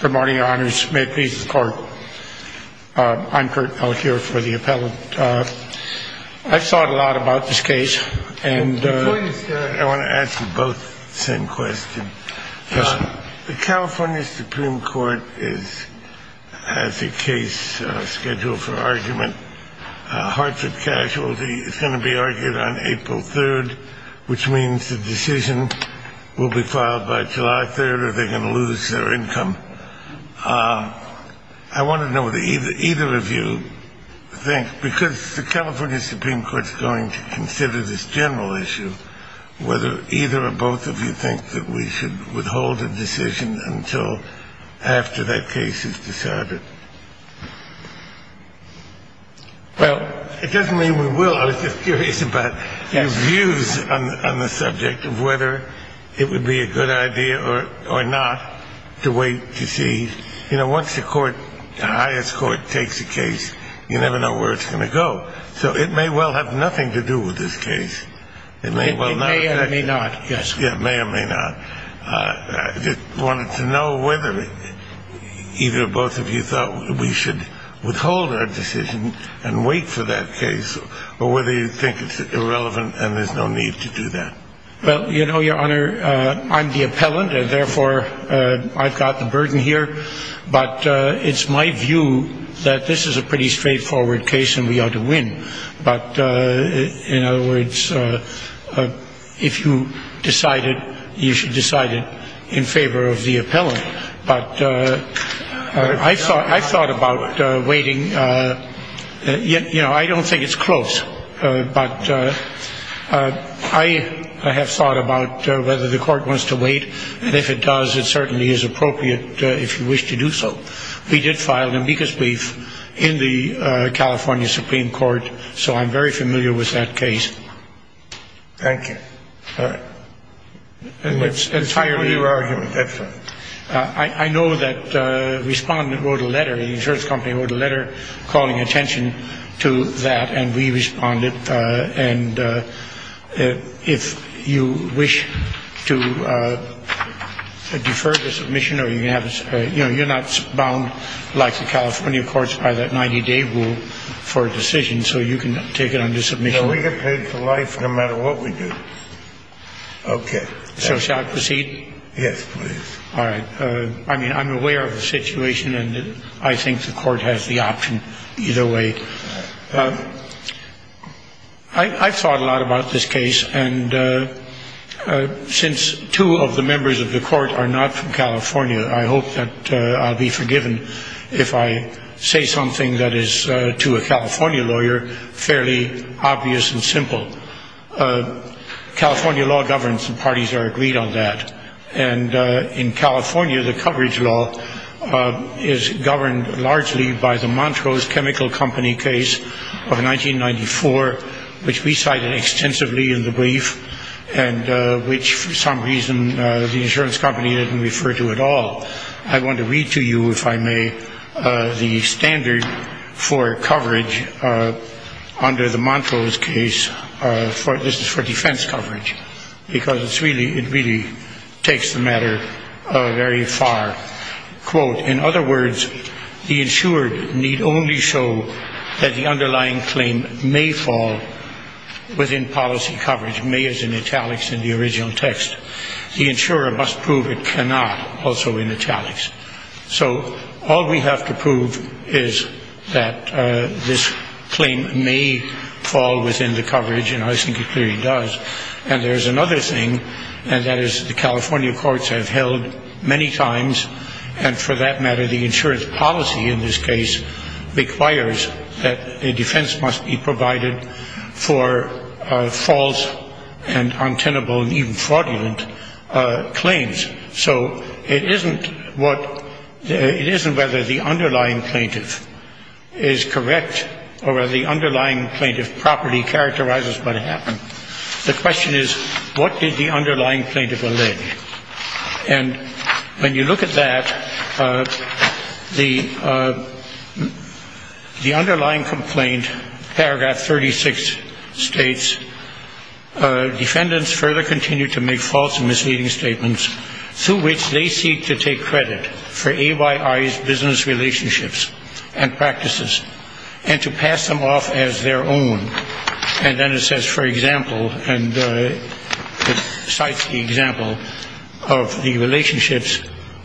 Good morning, your honors. May it please the court. I'm Kurt Elk here for the appellate. I've thought a lot about this case. And before you start, I want to ask you both the same question. Yes, sir. The California Supreme Court has a case scheduled for argument. Hartford Casualty is going to be argued on April 3rd, which means the decision will be filed by your income. I want to know what either of you think, because the California Supreme Court is going to consider this general issue, whether either or both of you think that we should withhold a decision until after that case is decided. Well, it doesn't mean we will. I was just curious about your views on the subject of whether it would be a good idea or not to wait to see. You know, once the court, the highest court, takes a case, you never know where it's going to go. So it may well have nothing to do with this case. It may well not affect it. It may or may not, yes. Yeah, may or may not. I just wanted to know whether either or both of you thought we should withhold our decision and wait for that case, or whether you think it's irrelevant and there's no need to do that. Well, you know, I'm the appellant, and therefore I've got the burden here. But it's my view that this is a pretty straightforward case and we ought to win. But in other words, if you decided, you should decide it in favor of the appellant. But I've thought about waiting. You know, I don't think it's close. But I have thought about whether the court wants to wait, and if it does, it certainly is appropriate if you wish to do so. We did file an amicus brief in the California Supreme Court, so I'm very familiar with that case. Thank you. And it's entirely your argument, that's all. I know that a respondent wrote a letter, the insurance company wrote a letter calling attention to that, and we responded. And if you wish to defer the submission, or you can have a you know, you're not bound like the California courts by that 90-day rule for a decision, so you can take it under submission. No, we get paid for life no matter what we do. Okay. So shall I proceed? Yes, please. All right. I mean, I'm aware of the situation, and I think the court has the option either way. I've thought a lot about this case, and since two of the members of the court are not from California, I hope that I'll be forgiven if I say something that is to a California lawyer fairly obvious and simple. California law governs, and parties are agreed on that. And in California, the coverage law is governed largely by the Montrose Chemical Company case of 1994, which we cited extensively in the brief, and which for some reason the insurance company didn't refer to at all. I want to read to you, if I may, the standard for coverage under the Montrose case. This is for defense coverage, because it really takes the matter very far. Quote, in other words, the insured need only show that the underlying claim may fall within policy coverage. May is in italics in the original text. The insurer must prove it cannot also in italics. So all we have to prove is that this claim may fall within the coverage, and I think it clearly does. And there's another thing, and that is the California courts have held many times, and for that matter the insurance policy in this case requires that a defense must be provided for false and untenable and even fraudulent claims. So it isn't whether the underlying plaintiff is correct or whether underlying plaintiff property characterizes what happened. The question is, what did the underlying plaintiff allege? And when you look at that, the underlying complaint, paragraph 36 states, defendants further continue to make false and misleading statements through which they seek to take credit for AYI's business relationships and practices and to pass them off as their own. And then it says, for example, and it cites the example of the relationships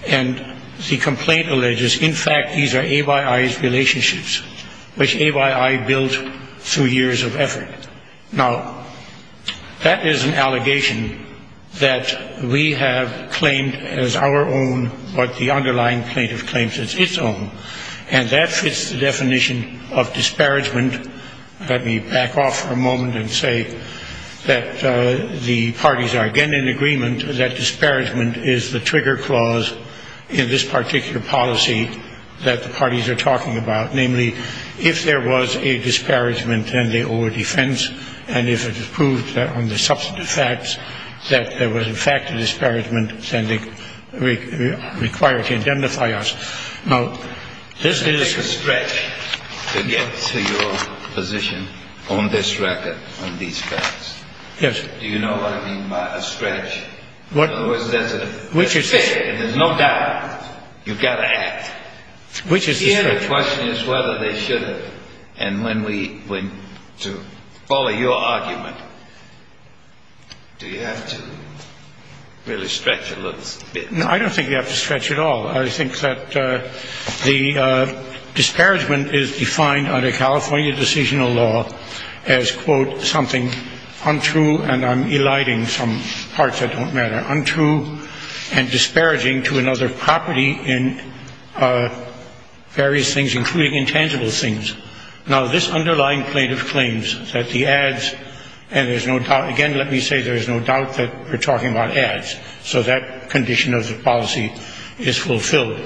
and the complaint alleges, in fact, these are AYI's relationships, which AYI built through years of effort. Now, that is an allegation that we have claimed as our own, but the underlying plaintiff claims it's its own. And that fits the definition of disparagement. Let me back off for a moment and say that the parties are again in agreement that disparagement is the trigger clause in this particular policy that the parties are talking about. Namely, if there was a disparagement, then they owe a defense, and if it is proved on the substantive facts that there was, in fact, a disparagement, then they require to identify us. Now, this is a stretch to get to your position on this record, on these facts. Do you know what I mean by a stretch? In other words, there's a figure, there's no doubt, you've got to act. The other question is whether they should have. And when we went to follow your argument, do you have to really stretch a little bit? No, I don't think you have to stretch at all. I think that the disparagement is defined under California decisional law as, quote, something untrue, and I'm eliding some parts that don't matter, untrue and disparaging to another property in various things, including intangible things. Now, this underlying plaintiff claims that the ads, and there's no doubt, again, let me say there's no doubt that we're talking about ads, so that condition of the policy is fulfilled.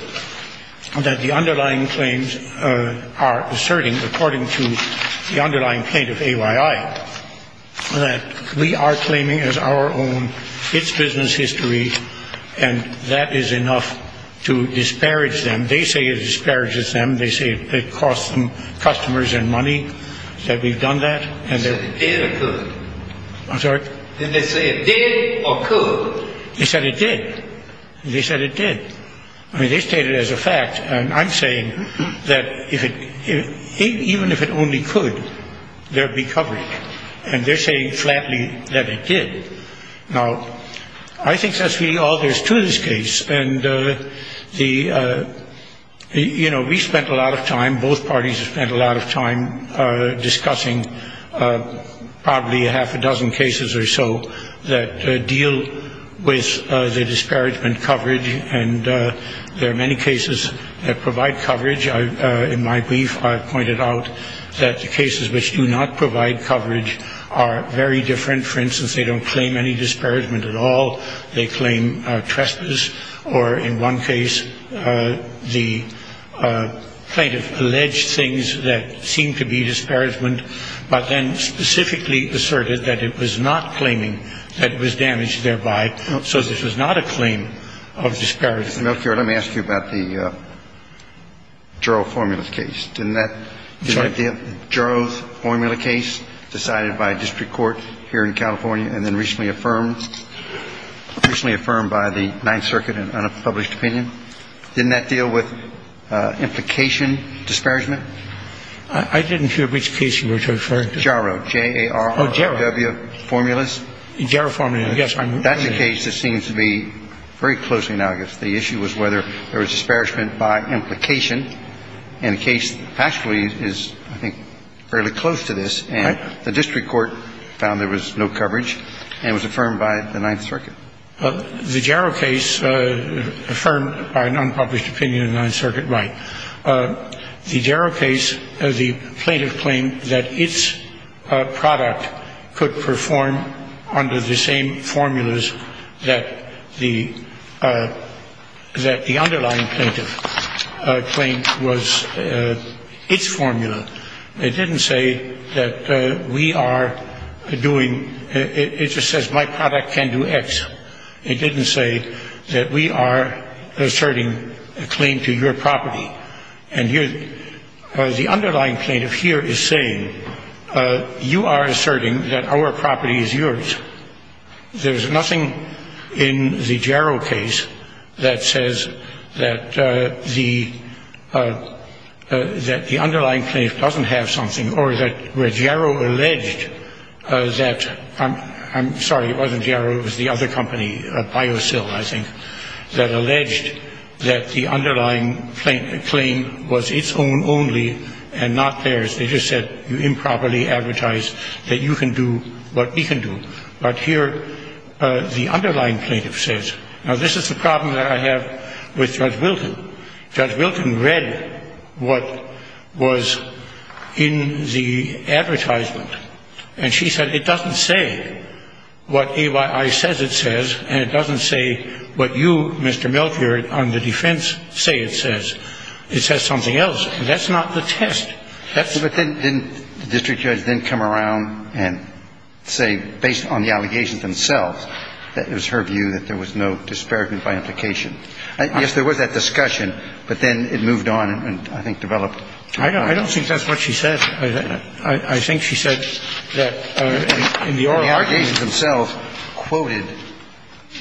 That the underlying claims are asserting, according to the underlying plaintiff, AYI, that we are claiming as our own its business history, and that is enough to disparage them. They say it disparages them. They say it costs them customers and money, that we've done that. Did they say it did or could? They said it did. They stated as a fact, and I'm saying that even if it only could, there'd be coverage. And they're saying flatly that it did. Now, I think that's really all there's to this case, and the, you know, we spent a lot of time, both parties spent a lot of time discussing probably a half a dozen cases or so that deal with the disparagement coverage, and there are many cases that provide coverage. In my brief, I pointed out that the cases which do not provide coverage are very different. For instance, they don't claim any disparagement at all. They claim trespass or, in one case, the plaintiff alleged things that seem to be disparagement, but then specifically asserted that it was not claiming, that it was damaged thereby. So this was not a claim of disparagement. Mr. Melfiore, let me ask you about the Juro formula case. Didn't that the Juro formula case decided by a district court here in California and then recently affirmed, recently affirmed by the Ninth Circuit in an unpublished opinion? Didn't that deal with implication disparagement? I didn't hear which case you were referring to. Juro, J-A-R-O-W formulas. Juro formulas, yes. That's a case that seems to be very closely analogous. The issue was whether there was disparagement by implication, and the case actually is, I think, fairly close to this. The district court found there was no coverage and was affirmed by the Ninth Circuit. The Juro case affirmed by an unpublished opinion of the Ninth Circuit, right. The Juro case, the plaintiff claimed that its product could perform under the same formulas that the we are doing. It just says my product can do X. It didn't say that we are asserting a claim to your property. And the underlying plaintiff here is saying you are asserting that our property is yours. There's nothing in the Juro case that says that the underlying plaintiff doesn't have something or that where J-A-R-O alleged that, I'm sorry, it wasn't J-A-R-O, it was the other company, BioSil, I think, that alleged that the underlying claim was its own only and not theirs. They just said you improperly advertised that you can do what we can do. But here the underlying plaintiff says, now this is the problem that I have with Judge Wilton. Judge Wilton read what was in the advertisement, and she said it doesn't say what AYI says it says, and it doesn't say what you, Mr. Melfiore, on the defense say it says. It says something else. And that's not the test. That's the question. But then didn't the district judge then come around and say, based on the allegations themselves, that it was her view that there was no disparagement by implication? Yes, there was that discussion, but then it moved on and, I think, developed. I don't think that's what she said. I think she said that in the oral argument The allegations themselves quoted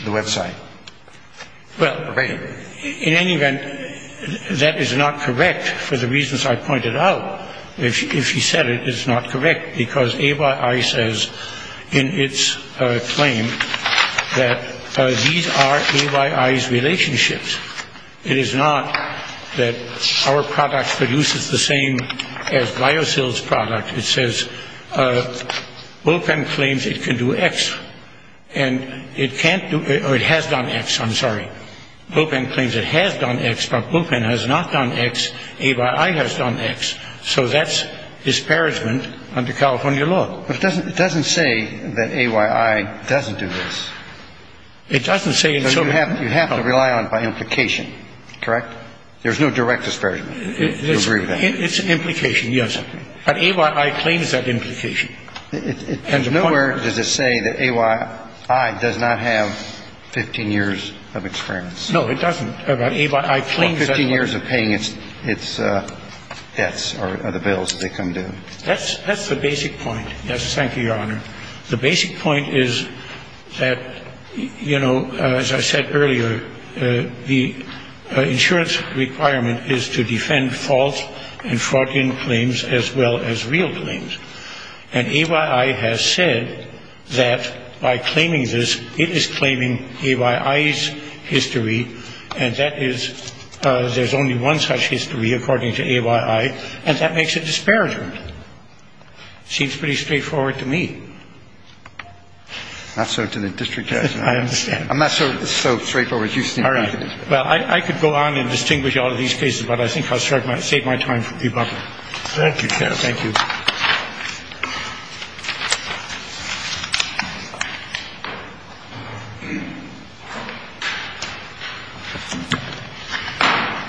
the website. Well, in any event, that is not correct for the reasons I pointed out. If she said it, it's not correct, because AYI says in its claim that these are AYI's relationships. It is not that our product produces the same as BioCell's product. It says Bopan claims it can do X. And it can't do or it has done X, I'm sorry. Bopan claims it has done X, but Bopan has not done X. AYI has done X. So that's disparagement under California law. But it doesn't say that AYI doesn't do this. It doesn't say in some way. You have to rely on by implication, correct? There's no direct disparagement. It's an implication, yes. But AYI claims that implication. Nowhere does it say that AYI does not have 15 years of experience. No, it doesn't. But AYI claims that. Or 15 years of paying its debts or the bills they come due. That's the basic point. Yes, thank you, Your Honor. The basic point is that, you know, as I said earlier, the insurance requirement is to defend false and fraudulent claims as well as real claims. And AYI has said that by claiming this, it is claiming AYI's history. And that is there's only one such history, according to AYI. And that makes it disparagement. Seems pretty straightforward to me. Not so to the district judge. I understand. I'm not so straightforward. All right. Well, I could go on and distinguish all of these cases, but I think I'll save my time for Bopan. Thank you, counsel. Thank you.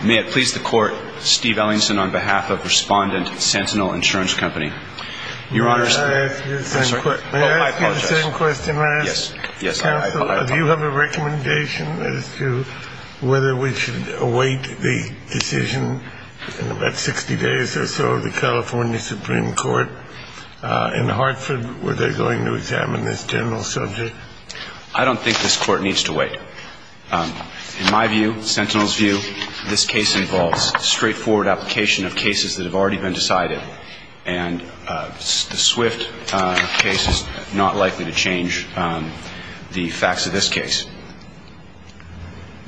May it please the Court, Steve Ellingson, on behalf of Respondent Sentinel Insurance Company. Your Honor, may I ask you the same question? Yes, I apologize. Counsel, do you have a recommendation as to whether we should await the decision in about 60 days or so of the California Supreme Court in Hartford? Were they going to examine this general subject? I don't think this Court needs to wait. In my view, Sentinel's view, this case involves straightforward application of cases that have already been decided. And the Swift case is not likely to change the facts of this case.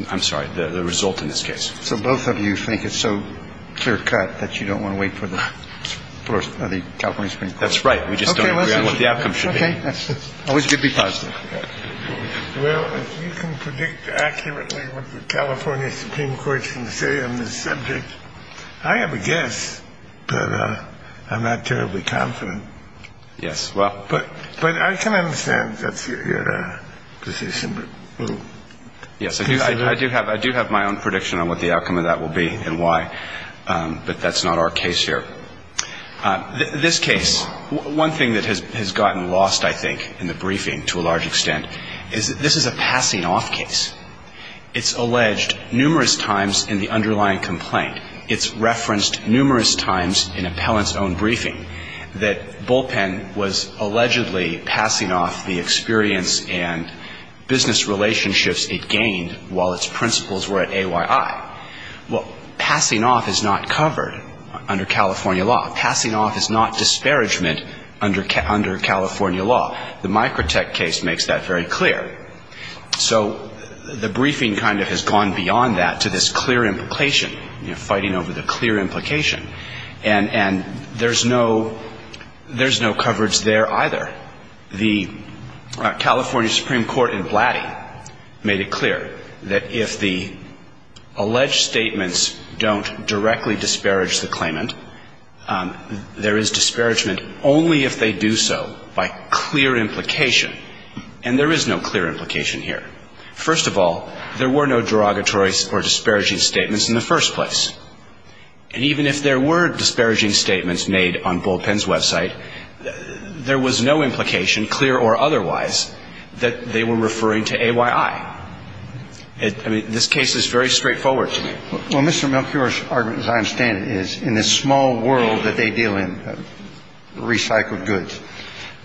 I'm sorry, the result in this case. So both of you think it's so clear cut that you don't want to wait for the first of the California Supreme Court. That's right. We just don't know what the outcome should be positive. Well, you can predict accurately what the California Supreme Court can say on this subject. I have a guess, but I'm not terribly confident. Yes. Well, but but I can understand that's your decision. Yes, I do have my own prediction on what the outcome of that will be and why. But that's not our case here. This case, one thing that has gotten lost, I think, in the briefing to a large extent, is this is a passing off case. It's alleged numerous times in the underlying complaint. It's referenced numerous times in appellant's own briefing that Bullpen was allegedly passing off the experience and business relationships it gained while its principals were at AYI. Well, passing off is not covered under California law. Passing off is not disparagement under California law. The Microtech case makes that very clear. So the briefing kind of has gone beyond that to this clear implication, fighting over the clear implication. And there's no coverage there either. The California Supreme Court in Blatty made it clear that if the alleged statements don't directly disparage the claimant, there is disparagement only if they do so by clear implication. And there is no clear implication here. First of all, there were no derogatory or disparaging statements in the first place. And even if there were disparaging statements made on Bullpen's website, there was no implication, clear or otherwise, that they were referring to AYI. I mean, this case is very straightforward to me. Well, Mr. Melchior's argument, as I understand it, is in this small world that they deal in, recycled goods,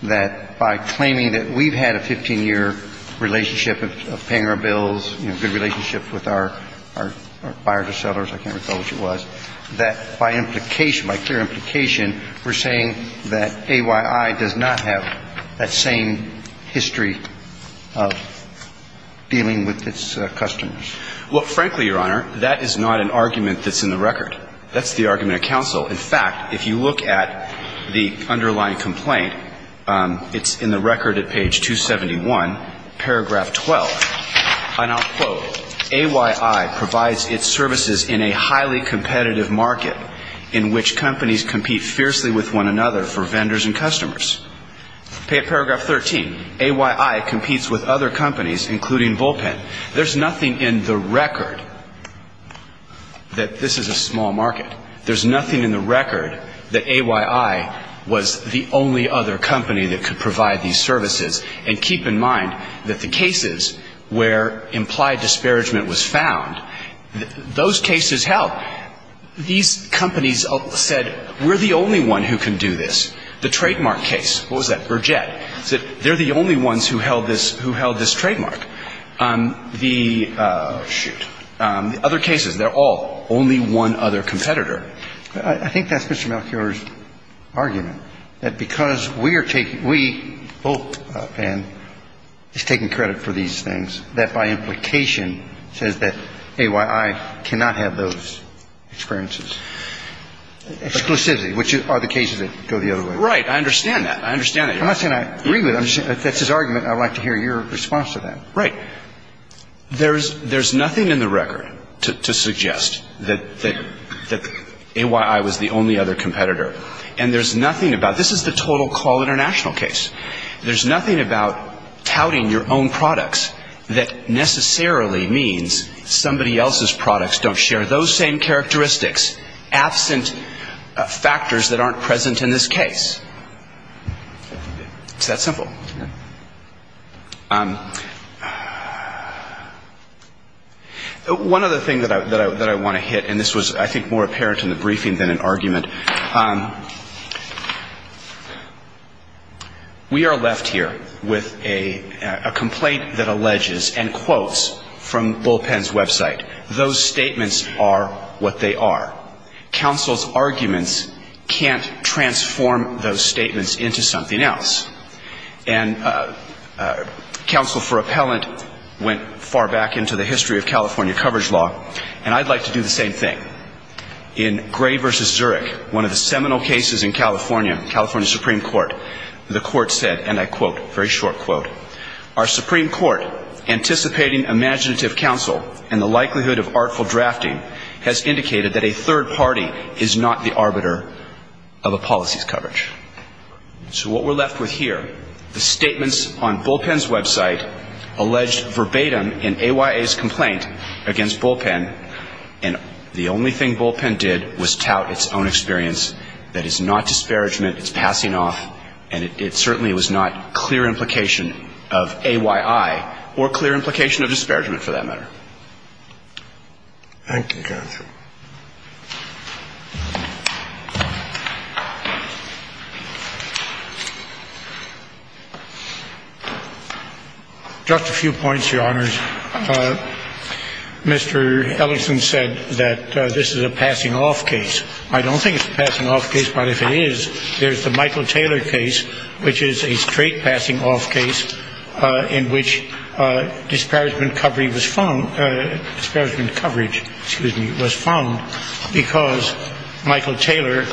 that by claiming that we've had a 15-year relationship of paying our bills, you know, good relationships with our buyers or sellers, I can't recall which it was, that by implication, by clear implication, we're saying that AYI does not have that same history of dealing with its customers. Well, frankly, Your Honor, that is not an argument that's in the record. That's the argument of counsel. In fact, if you look at the underlying complaint, it's in the record at page 271, paragraph 12, and I'll quote, AYI provides its services in a highly competitive market in which companies compete fiercely with one another for vendors and customers. Paragraph 13, AYI competes with other companies, including Bullpen. There's nothing in the record that this is a small market. There's nothing in the record that AYI was the only other company that could provide these services. And keep in mind that the cases where implied disparagement was found, those cases held. These companies said, we're the only one who can do this. The trademark case, what was that, Burgett, said they're the only ones who held this trademark. The other cases, they're all only one other competitor. I think that's Mr. Melchior's argument, that because we are taking, we, Bullpen, is taking credit for these things, that by implication says that AYI cannot have those experiences, exclusively, which are the cases that go the other way. Right. I understand that. I understand that, Your Honor. I'm not saying I agree with it. That's his argument, and I'd like to hear your response to that. Right. There's nothing in the record to suggest that AYI was the only other competitor. And there's nothing about, this is the total call international case. There's nothing about touting your own products that necessarily means somebody else's products don't share those same characteristics, absent factors that aren't present in this case. It's that simple. One other thing that I want to hit, and this was, I think, more apparent in the briefing than an argument. We are left here with a complaint that alleges, and quotes from Bullpen's website, those statements are what they are. Counsel's arguments can't transform those statements into something else. And counsel for appellant went far back into the history of California coverage law, and I'd like to do the same thing. In Gray v. Zurich, one of the seminal cases in California, California Supreme Court, the court said, and I quote, very short quote, our Supreme Court, anticipating imaginative counsel and the likelihood of artful drafting, has indicated that a third party is not the arbiter of a policy's coverage. So what we're left with here, the statements on Bullpen's website, alleged verbatim in AYA's complaint against Bullpen, and the only thing Bullpen did was tout its own experience. That is not disparagement. It's passing off, and it certainly was not clear implication of AYI or clear implication of disparagement for that matter. Thank you, counsel. Just a few points, Your Honors. Mr. Ellison said that this is a passing off case. I don't think it's a passing off case, but if it is, there's the Michael Taylor case, which is a straight passing off case in which disparagement coverage was found because Michael Taylor,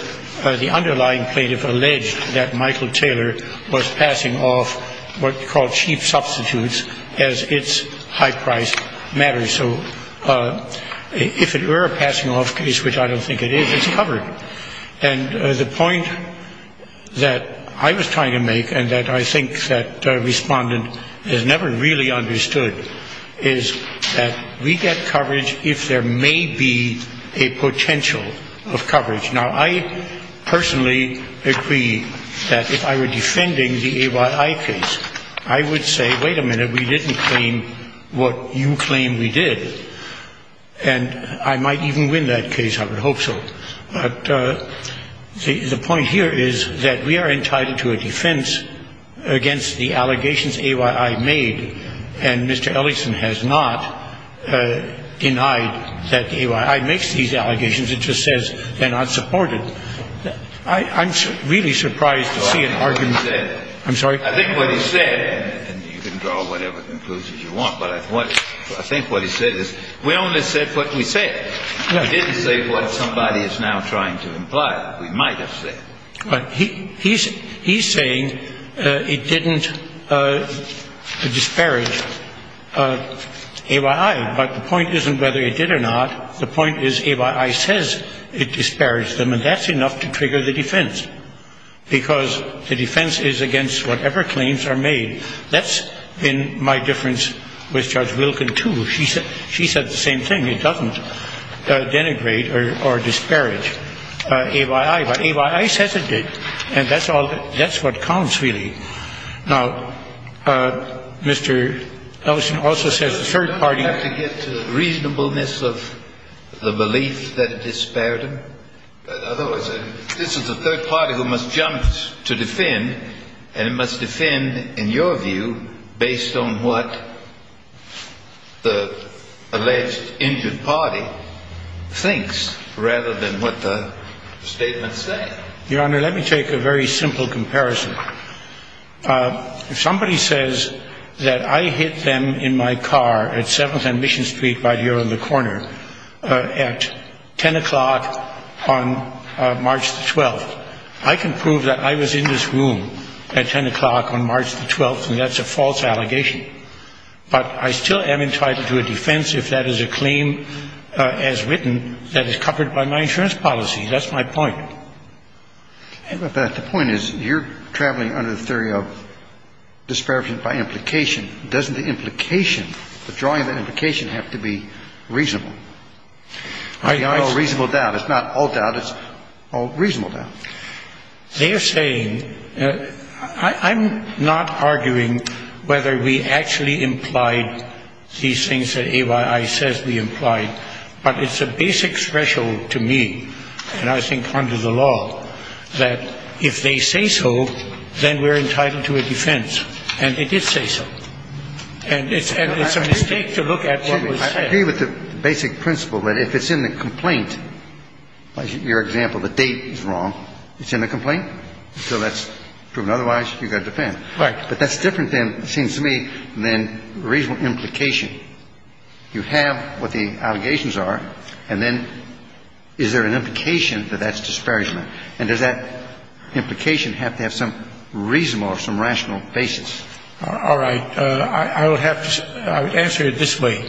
the underlying plaintiff alleged that Michael Taylor was passing off what he called cheap substitutes as its high price matters. So if it were a passing off case, which I don't think it is, it's covered. And the point that I was trying to make, and that I think that a respondent has never really understood, is that we get coverage if there may be a potential of coverage. Now, I personally agree that if I were defending the AYI case, I would say, wait a minute, we didn't claim what you claim we did. And I might even win that case. I would hope so. But the point here is that we are entitled to a defense against the allegations AYI made, and Mr. Ellison has not denied that AYI makes these allegations. It just says they're not supported. I'm really surprised to see an argument. I'm sorry? I think what he said, and you can draw whatever conclusions you want, but I think what he said is we only said what we said. We didn't say what somebody is now trying to imply. We might have said. He's saying it didn't disparage AYI, but the point isn't whether it did or not. The point is AYI says it disparaged them, and that's enough to trigger the defense, because the defense is against whatever claims are made. That's been my difference with Judge Wilkin, too. She said the same thing. It doesn't denigrate or disparage AYI. But AYI says it did, and that's what counts, really. Now, Mr. Ellison also says the third party. You don't have to get to the reasonableness of the belief that it disparaged them. Otherwise, this is the third party who must jump to defend, and it must defend in your view based on what the alleged injured party thinks rather than what the statements say. Your Honor, let me take a very simple comparison. If somebody says that I hit them in my car at 7th and Mission Street right here on the corner at 10 o'clock on March the 12th, I can prove that I was in this room at 10 o'clock on March the 12th, and that's a false allegation. But I still am entitled to a defense if that is a claim as written that is covered by my insurance policy. That's my point. But the point is you're traveling under the theory of disparagement by implication. Doesn't the implication, the drawing of the implication have to be reasonable? It's not all doubt. It's all reasonable doubt. They're saying I'm not arguing whether we actually implied these things that AYI says we implied, but it's a basic threshold to me, and I think under the law, that if they say so, then we're entitled to a defense. And it did say so. And it's a mistake to look at what was said. I agree with the basic principle that if it's in the complaint, like your example, the date is wrong, it's in the complaint. So that's proven otherwise. You've got to defend. Right. But that's different than, it seems to me, than reasonable implication. You have what the allegations are, and then is there an implication that that's disparagement? And does that implication have to have some reasonable or some rational basis? All right. I would have to say, I would answer it this way,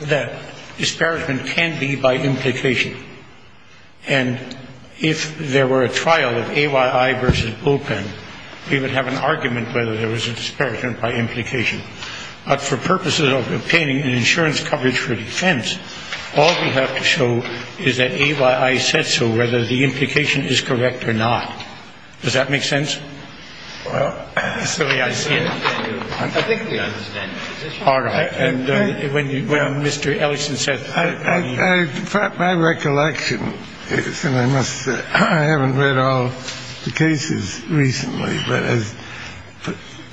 that disparagement can be by implication. And if there were a trial of AYI versus Bullpen, we would have an argument whether there was a disparagement by implication. But for purposes of obtaining an insurance coverage for defense, all we have to show is that AYI said so, whether the implication is correct or not. Does that make sense? Well, I think we understand the position. All right. And when Mr. Ellison says that. My recollection is, and I must say, I haven't read all the cases recently, but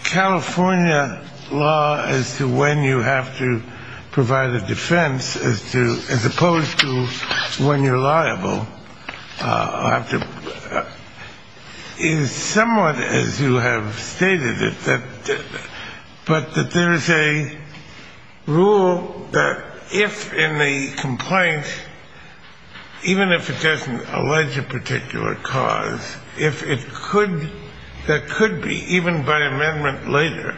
California law as to when you have to provide a defense as opposed to when you're liable is somewhat, as you have stated, but that there is a rule that if in the complaint, even if it doesn't allege a particular cause, if it could, there could be, even by amendment later,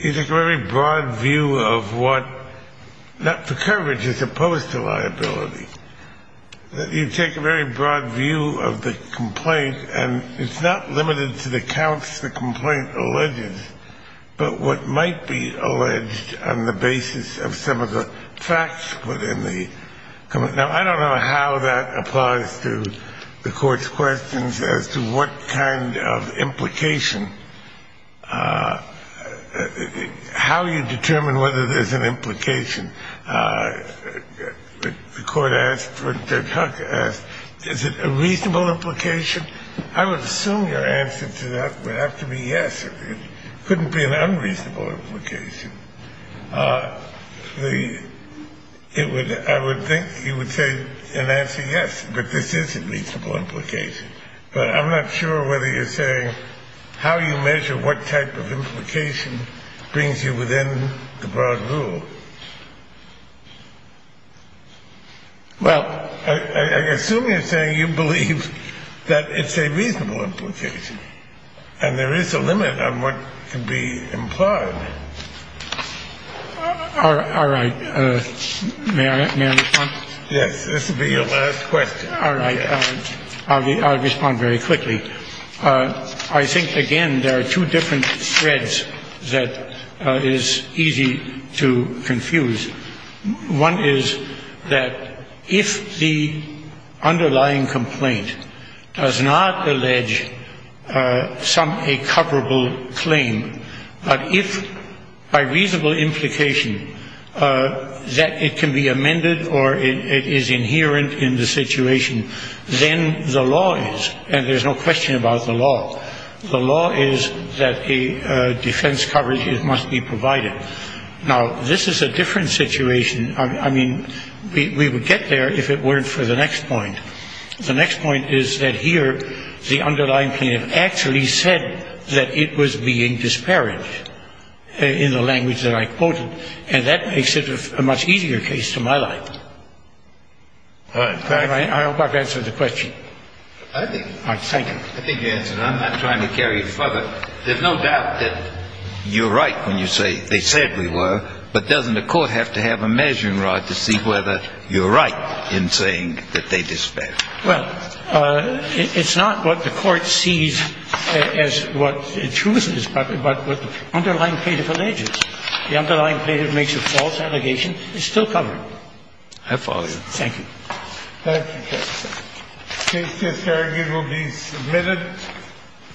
you take a very broad view of what the coverage is opposed to liability. You take a very broad view of the complaint, and it's not limited to the counts the complaint alleges, but what might be alleged on the basis of some of the facts within the complaint. Now, I don't know how that applies to the court's questions as to what kind of implication, how you determine whether there's an implication. The court asked, Judge Huck asked, is it a reasonable implication? I would assume your answer to that would have to be yes. It couldn't be an unreasonable implication. I would think you would say an answer yes, but this is a reasonable implication. But I'm not sure whether you're saying how you measure what type of implication brings you within the broad rule. Well, I assume you're saying you believe that it's a reasonable implication, and there is a limit on what can be implied. All right. May I respond? Yes, this will be your last question. All right. I'll respond very quickly. I think, again, there are two different threads that is easy to confuse. One is that if the underlying complaint does not allege some a coverable claim, but if by reasonable implication that it can be amended or it is inherent in the situation, then the law is, and there's no question about the law, the law is that a defense coverage must be provided. Now, this is a different situation. I mean, we would get there if it weren't for the next point. The next point is that here the underlying plaintiff actually said that it was being disparaged in the language that I quoted, and that makes it a much easier case to my life. I hope I've answered the question. I think you answered it. I'm not trying to carry it further. There's no doubt that you're right when you say they said we were, but doesn't the court have to have a measuring rod to see whether you're right in saying that they disparaged? Well, it's not what the court sees as what the truth is, but what the underlying plaintiff alleges. The underlying plaintiff makes a false allegation. It's still covered. I follow you. Thank you. Thank you, Justice. The case here, Farragut, will be submitted.